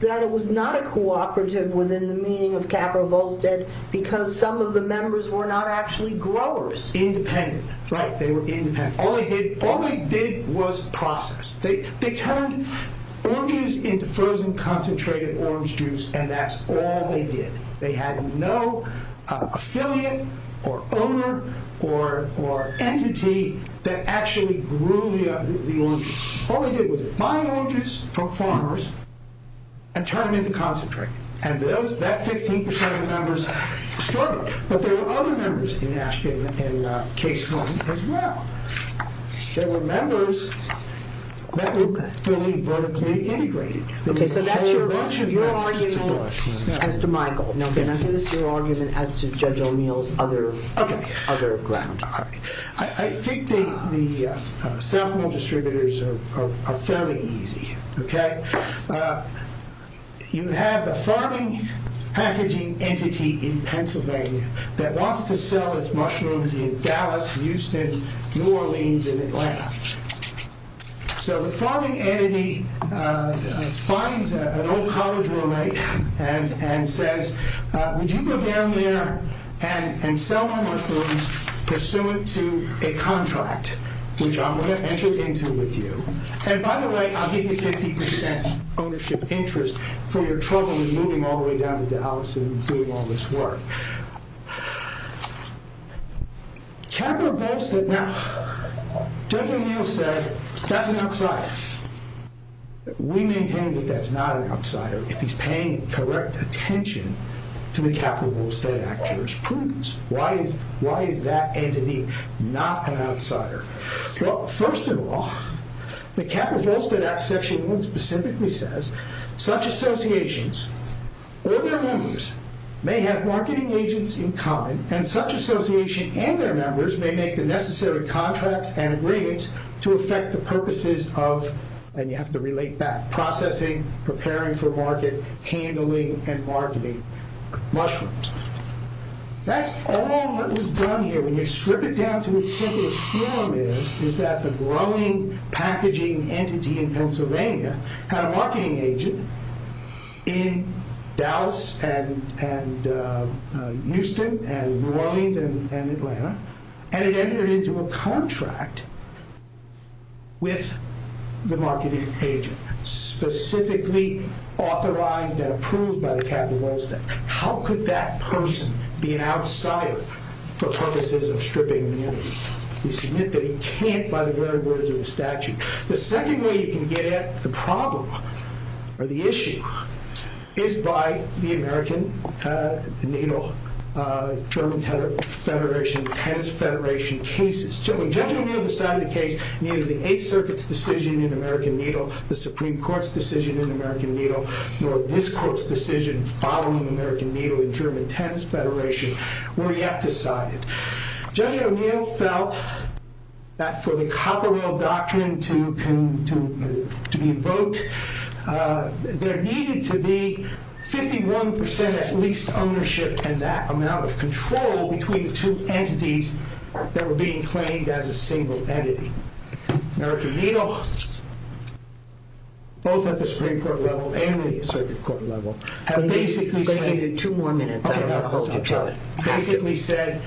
that it was not a cooperative within the meaning of Capital Homestead because some of the members were not actually growers. Independent, right. They were independent. All they did was process. They turned oranges into frozen concentrated orange juice, and that's all they did. They had no affiliate or owner or entity that actually grew the oranges. All they did was buy oranges from farmers and turn them into concentrate. And that 15% of the members started. But there were other members in Case Swain as well. There were members that were fully vertically integrated. Okay, so that's your argument as to Michael. Now, can I hear your argument as to Judge O'Neill's other ground? I think the South Mill distributors are fairly easy. You have the farming packaging entity in Pennsylvania that wants to sell its mushrooms in Dallas, Houston, New Orleans, and Atlanta. So the farming entity finds an old college roommate and says, would you go down there and sell my mushrooms pursuant to a contract, which I'm going to enter into with you. And by the way, I'll give you 50% ownership interest for your trouble in moving all the way down to Dallas and doing all this work. Capital Bolsthead. Now, Judge O'Neill said, that's an outsider. We maintain that that's not an outsider if he's paying correct attention to the Capital Bolsthead Act jurisprudence. Why is that entity not an outsider? Well, first of all, the Capital Bolsthead Act section one specifically says, such associations or their members may have marketing agents in common and such association and their members may make the necessary contracts and agreements to affect the purposes of, and you have to relate back, processing, preparing for market, handling, and marketing mushrooms. That's all that was done here. When you strip it down to its simplest form is, is that the growing packaging entity in Pennsylvania had a marketing agent in Dallas and Houston and New Orleans and Atlanta and it entered into a contract with the marketing agent, specifically authorized and approved by the Capital Bolsthead. How could that person be an outsider for purposes of stripping an entity? We submit that he can't by the very words of the statute. The second way you can get at the problem or the issue is by the American Needle German Tennis Federation cases. Judging on the other side of the case, neither the Eighth Circuit's decision in American Needle, the Supreme Court's decision in American Needle, nor this court's decision following American Needle in German Tennis Federation were yet decided. Judge O'Neill felt that for the Copperwell Doctrine to be invoked, there needed to be 51% at least ownership and that amount of control between the two entities that were being claimed as a single entity. American Needle, both at the Supreme Court level and the Circuit Court level, have basically said... I'm going to give you two more minutes. Basically said,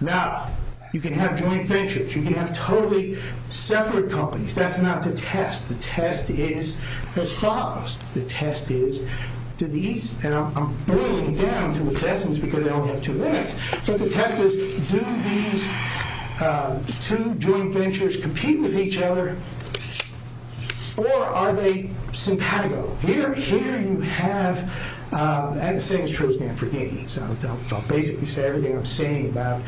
now, you can have joint ventures. You can have totally separate companies. That's not the test. The test is as follows. The test is, and I'm boiling down to the questions because I only have two minutes, but the test is, do these two joint ventures compete with each other or are they simpatico? Here you have... and the same is true as Manfredini. So I'll basically say everything I'm saying about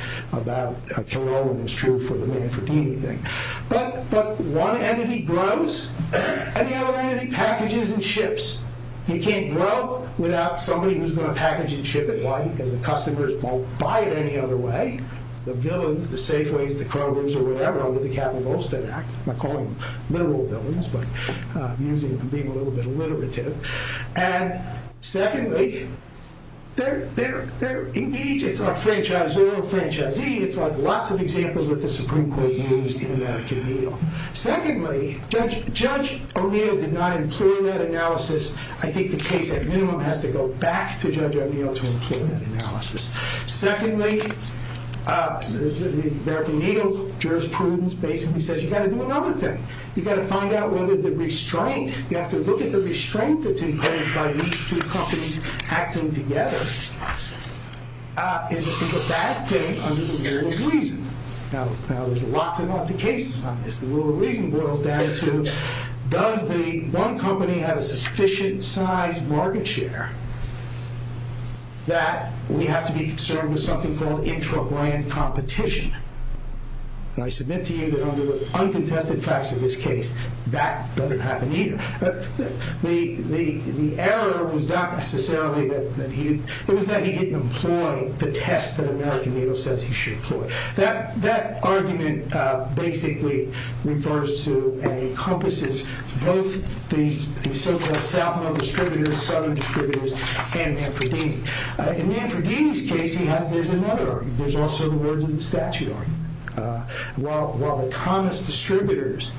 Kilroy when it's true for the Manfredini thing. But one entity grows and the other entity packages and ships. You can't grow without somebody who's going to package and ship it. Why? Because the customers won't buy it any other way. The villains, the Safeways, the Krogers, or whatever, under the Capital Goldstead Act, I'm not calling them literal villains, but I'm using them and being a little bit alliterative. And secondly, they're engaged. It's like franchisor, franchisee. It's like lots of examples that the Supreme Court used in American Needle. Secondly, Judge O'Neill did not employ that analysis. I think the case, at minimum, has to go back to Judge O'Neill to employ that analysis. Secondly, American Needle jurisprudence basically says you've got to do another thing. You've got to find out whether the restraint... You have to look at the restraint that's in place by these two companies acting together is a bad thing under the rule of reason. Now, there's lots and lots of cases on this. The rule of reason boils down to does the one company have a sufficient-sized market share that we have to be concerned with something called intra-brand competition? And I submit to you that under the uncontested facts of this case, that doesn't happen either. The error was not necessarily that he... It was that he didn't employ the test that American Needle says he should employ. That argument basically refers to and encompasses both the so-called Southern distributors and Manfredini. In Manfredini's case, there's another argument. There's also the words of the statute argument. While the Thomas distributors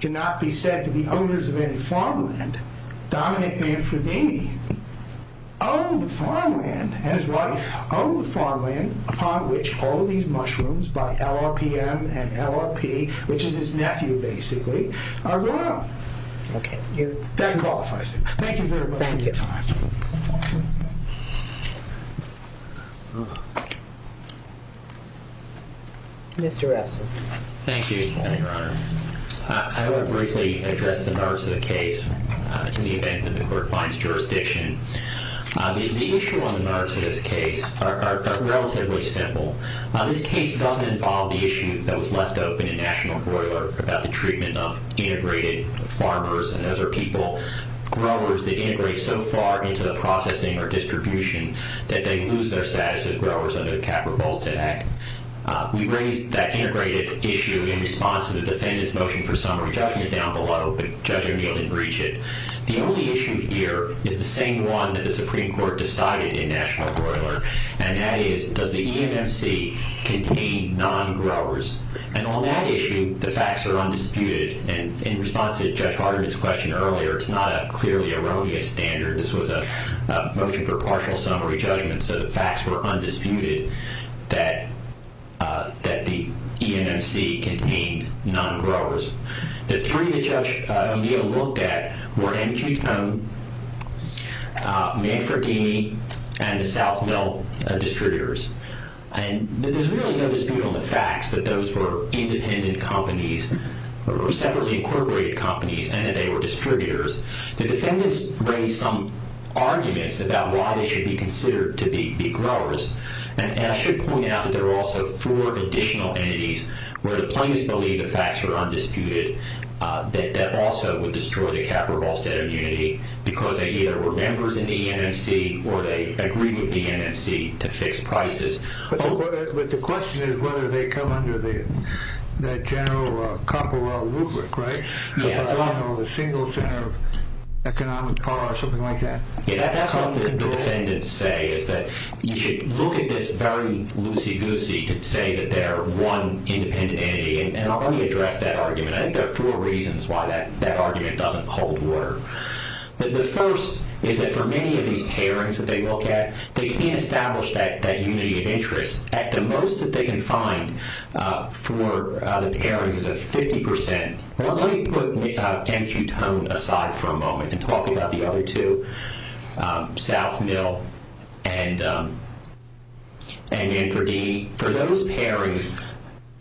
cannot be said to be owners of any farmland, dominant Manfredini owned the farmland, and his wife owned the farmland upon which all of these mushrooms by LRPM and LRP, which is his nephew, basically, are grown. That qualifies it. Thank you very much for your time. Mr. Russell. Thank you, Your Honor. I want to briefly address the merits of the case in the event that the court finds jurisdiction. The issue on the merits of this case are relatively simple. This case doesn't involve the issue that was left open in National Broiler about the treatment of integrated farmers and other people, growers that integrate so far into the processing or distribution that they lose their status as growers under the Capra-Bolstett Act. We raised that integrated issue in response to the defendant's motion for summary, judging it down below, but Judge O'Neill didn't reach it. The only issue here is the same one that the Supreme Court decided in National Broiler, and that is, does the EMMC contain non-growers? And on that issue, the facts are undisputed, and in response to Judge Hardeman's question earlier, it's not a clearly erroneous standard. This was a motion for partial summary judgment, so the facts were undisputed that the EMMC contained non-growers. The three that Judge O'Neill looked at were MQ-Tone, Manfredini, and the South Mill distributors, and there's really no dispute on the facts that those were independent companies or separately incorporated companies and that they were distributors. The defendants raised some arguments about why they should be considered to be growers, and I should point out that there were also four additional entities where the plaintiffs believed the facts were undisputed that also would destroy the capital of Allstate Immunity because they either were members in the EMMC or they agreed with the EMMC to fix prices. But the question is whether they come under that general Copperwell rubric, right? The single center of economic power or something like that. Yeah, that's what the defendants say is that you should look at this very loosey-goosey to say that they're one independent entity, and I'll only address that argument. I think there are four reasons why that argument doesn't hold water. The first is that for many of these pairings that they look at, they can't establish that unity of interest. At the most that they can find for the pairings is at 50%. Well, let me put M. Q. Tone aside for a moment and talk about the other two, South Mill and Manfredi. For those pairings,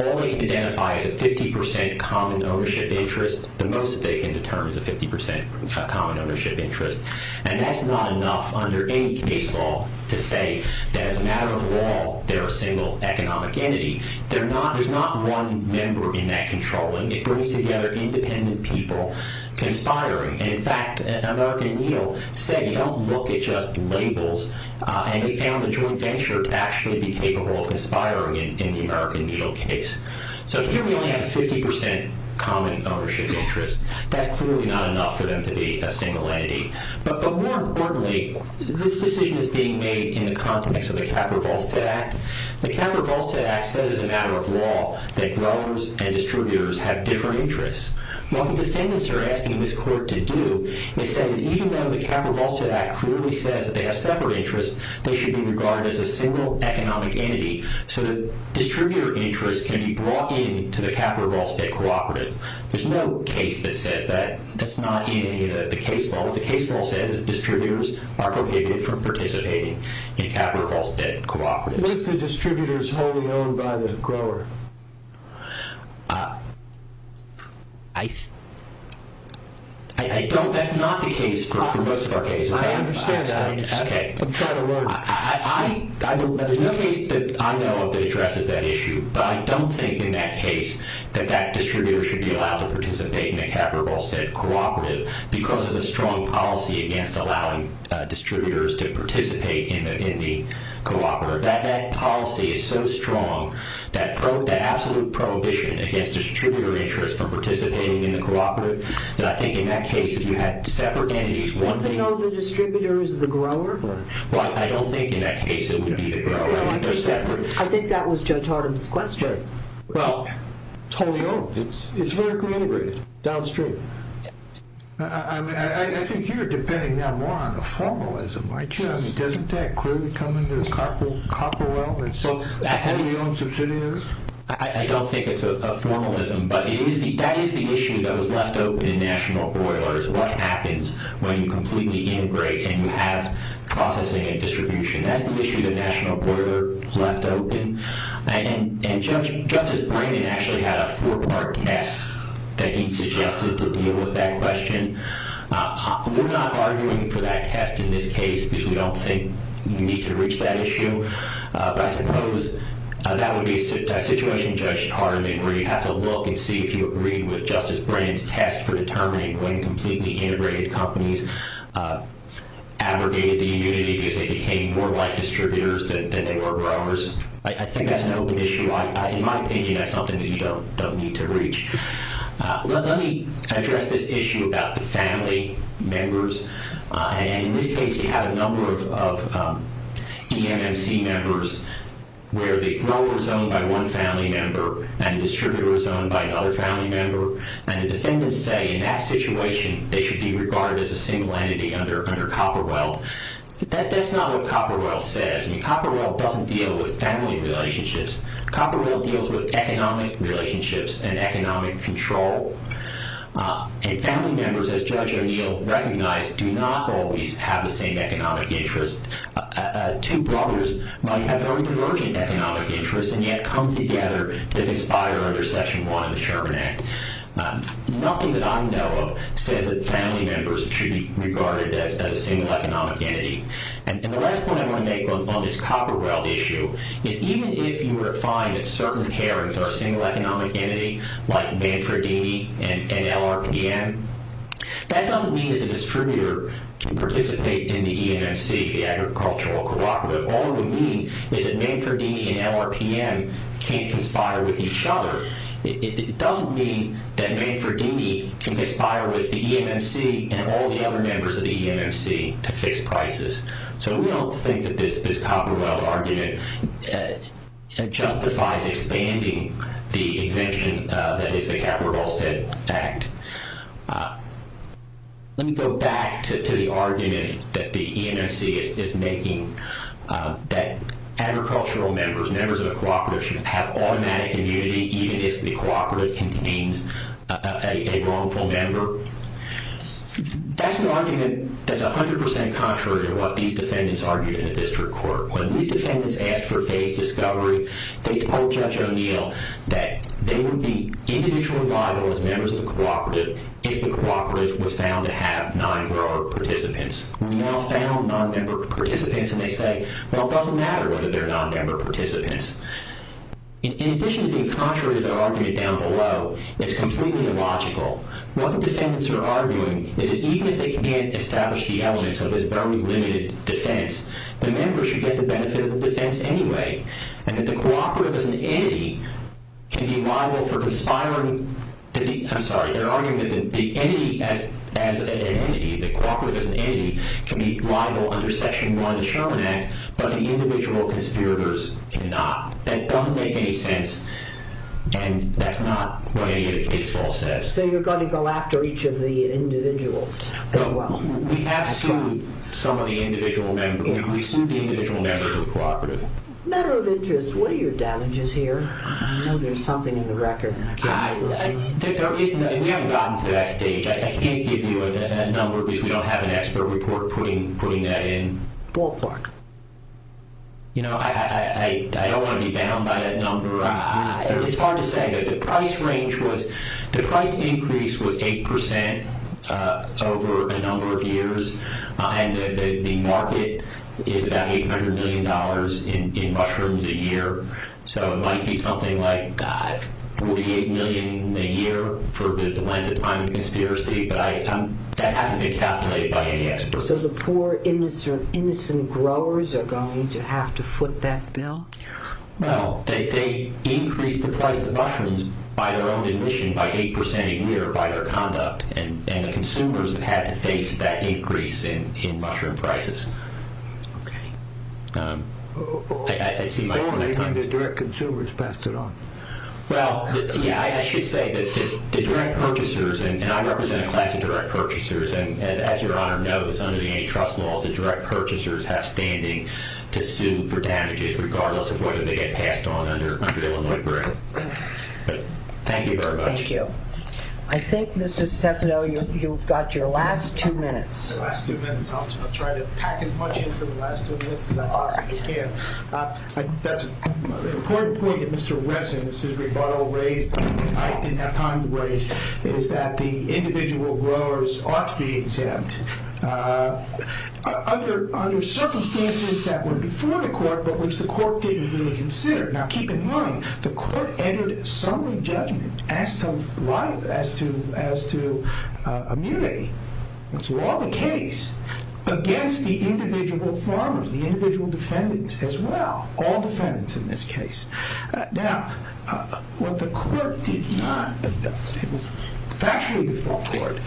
all they can identify is a 50% common ownership interest. The most that they can determine is a 50% common ownership interest, and that's not enough under any case law to say that as a matter of law they're a single economic entity. There's not one member in that controlling. It brings together independent people conspiring, and in fact, American Needle said you don't look at just labels, and they found a joint venture to actually be capable of conspiring in the American Needle case. So here we only have a 50% common ownership interest. That's clearly not enough for them to be a single entity, but more importantly, this decision is being made in the context of the Capra-Volstead Act. The Capra-Volstead Act says as a matter of law that growers and distributors have different interests. What the defendants are asking this court to do is say that even though the Capra-Volstead Act clearly says that they have separate interests, they should be regarded as a single economic entity so that distributor interests can be brought in to the Capra-Volstead cooperative. There's no case that says that. That's not in any of the case law. What the case law says is distributors are prohibited from participating in Capra-Volstead cooperatives. What if the distributor is wholly owned by the grower? That's not the case for most of our cases. I understand that. I'm trying to learn. There's no case that I know of that addresses that issue, but I don't think in that case that that distributor should be allowed to participate in a Capra-Volstead cooperative because of the strong policy against allowing distributors to participate in the cooperative. That policy is so strong, that absolute prohibition against distributor interests from participating in the cooperative, that I think in that case if you had separate entities... Wouldn't they know the distributor is the grower? Well, I don't think in that case it would be the grower. I think they're separate. I think that was Judge Hardin's question. Well, it's wholly owned. It's vertically integrated downstream. I think you're depending now more on the formalism, aren't you? Doesn't that clearly come under the Copperwell? It's a wholly owned subsidiary? I don't think it's a formalism, but that is the issue that was left open in National Boiler, is what happens when you completely integrate and you have processing and distribution. That's the issue that National Boiler left open. And Justice Brayman actually had a four-part test that he suggested to deal with that question. We're not arguing for that test in this case because we don't think you need to reach that issue. But I suppose that would be a situation, Judge Hardin, where you have to look and see if you agree with Justice Brayman's test for determining when completely integrated companies abrogated the immunity because they became more like distributors than they were growers. I think that's an open issue. In my opinion, that's something that you don't need to reach. Let me address this issue about the family members. In this case, you have a number of EMMC members where the grower is owned by one family member and the distributor is owned by another family member, and the defendants say in that situation they should be regarded as a single entity under Copperwell. That's not what Copperwell says. Copperwell doesn't deal with family relationships. Copperwell deals with economic relationships and economic control. And family members, as Judge O'Neill recognized, do not always have the same economic interest. Two brothers might have very divergent economic interests and yet come together to conspire under Section 1 of the Sherman Act. Nothing that I know of says that family members should be regarded as a single economic entity. And the last point I want to make on this Copperwell issue is even if you find that certain parents are a single economic entity, like Manfredini and LRPM, that doesn't mean that the distributor can participate in the EMMC, the agricultural cooperative. All it would mean is that Manfredini and LRPM can't conspire with each other. It doesn't mean that Manfredini can conspire with the EMMC and all the other members of the EMMC to fix prices. So we don't think that this Copperwell argument justifies expanding the exemption that is the Capital of All Set Act. Let me go back to the argument that the EMMC is making that agricultural members, members of a cooperative, should have automatic immunity even if the cooperative contains a wrongful member. That's an argument that's 100% contrary to what these defendants argued in the district court. When these defendants asked for phased discovery, they told Judge O'Neill that they would be individually liable as members of the cooperative if the cooperative was found to have non-grower participants. We now found non-member participants and they say, well, it doesn't matter whether they're non-member participants. In addition to being contrary to their argument down below, it's completely illogical. What the defendants are arguing is that even if they can't establish the elements of this very limited defense, the members should get the benefit of the defense anyway and that the cooperative as an entity can be liable for conspiring... I'm sorry, they're arguing that the entity as an entity, the cooperative as an entity, can be liable under Section 1 of the Sherman Act, but the individual conspirators cannot. That doesn't make any sense and that's not what any of the case law says. So you're going to go after each of the individuals? We have sued some of the individual members. We sued the individual members of the cooperative. Matter of interest, what are your damages here? I know there's something in the record. We haven't gotten to that stage. I can't give you a number because we don't have an expert report putting that in. I don't want to be bound by that number. It's hard to say, but the price range was... over a number of years, and the market is about $800 million in mushrooms a year, so it might be something like $48 million a year for the length of time of the conspiracy, but that hasn't been calculated by any experts. So the poor, innocent growers are going to have to foot that bill? Well, they increase the price of mushrooms by their own admission, by 8% a year by their conduct, and the consumers have had to face that increase in mushroom prices. Okay. I see my time is up. The direct consumers passed it on. Well, yeah, I should say that the direct purchasers, and I represent a class of direct purchasers, and as Your Honor knows, under the antitrust laws, the direct purchasers have standing to sue for damages regardless of whether they get passed on under Illinois Barrett. Thank you very much. Thank you. I think, Mr. Stefano, you've got your last two minutes. My last two minutes. I'll try to pack as much into the last two minutes as I possibly can. That's an important point that Mr. Webbs and Mrs. Rebuttal raised that I didn't have time to raise, is that the individual growers ought to be exempt under circumstances that were before the court, but which the court didn't really consider. Now, keep in mind, the court entered a summary judgment as to immunity, and so all the case against the individual farmers, the individual defendants as well, all defendants in this case. Now, what the court did not, it was factually before court,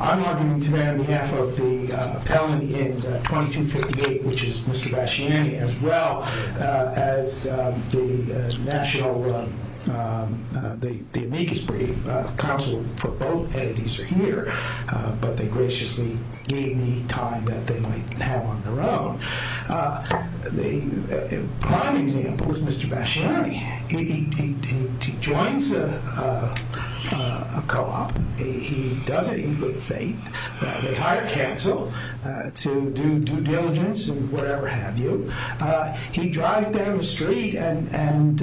I'm arguing today on behalf of the appellant in 2258, which is Mr. Bassiani, as well as the national, the amicus brief counsel for both entities are here, but they graciously gave me time that they might have on their own. The prime example is Mr. Bassiani. He joins a co-op. He does it in good faith. They hire counsel to do due diligence and whatever have you. He drives down the street and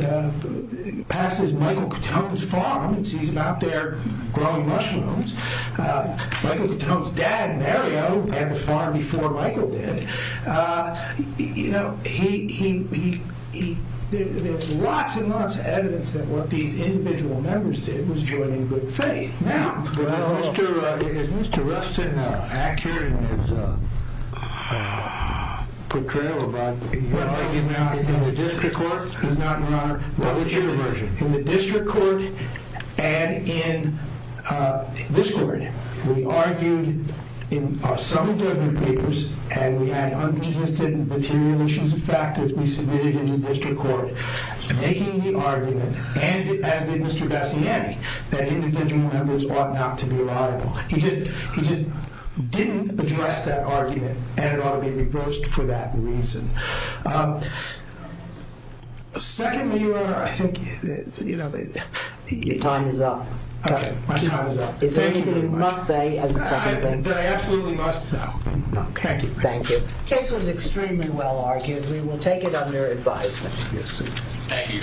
passes Michael Cotone's farm and sees him out there growing mushrooms. Michael Cotone's dad, Mario, had a farm before Michael did. You know, there's lots and lots of evidence that what these individual members did was join in good faith. Now, is Mr. Rustin accurate in his portrayal of Rodney? In the district court and in this court, we argued in some government papers and we had unresisted material issues of fact that we submitted in the district court, making the argument, and as did Mr. Bassiani, that individual members ought not to be liable. He just didn't address that argument and it ought to be reversed for that reason. Secondly, Your Honor, I think... Your time is up. Okay, my time is up. Is there anything you must say as a second thing? That I absolutely must? No. Okay, thank you. The case was extremely well argued. We will take it under advisement. Thank you.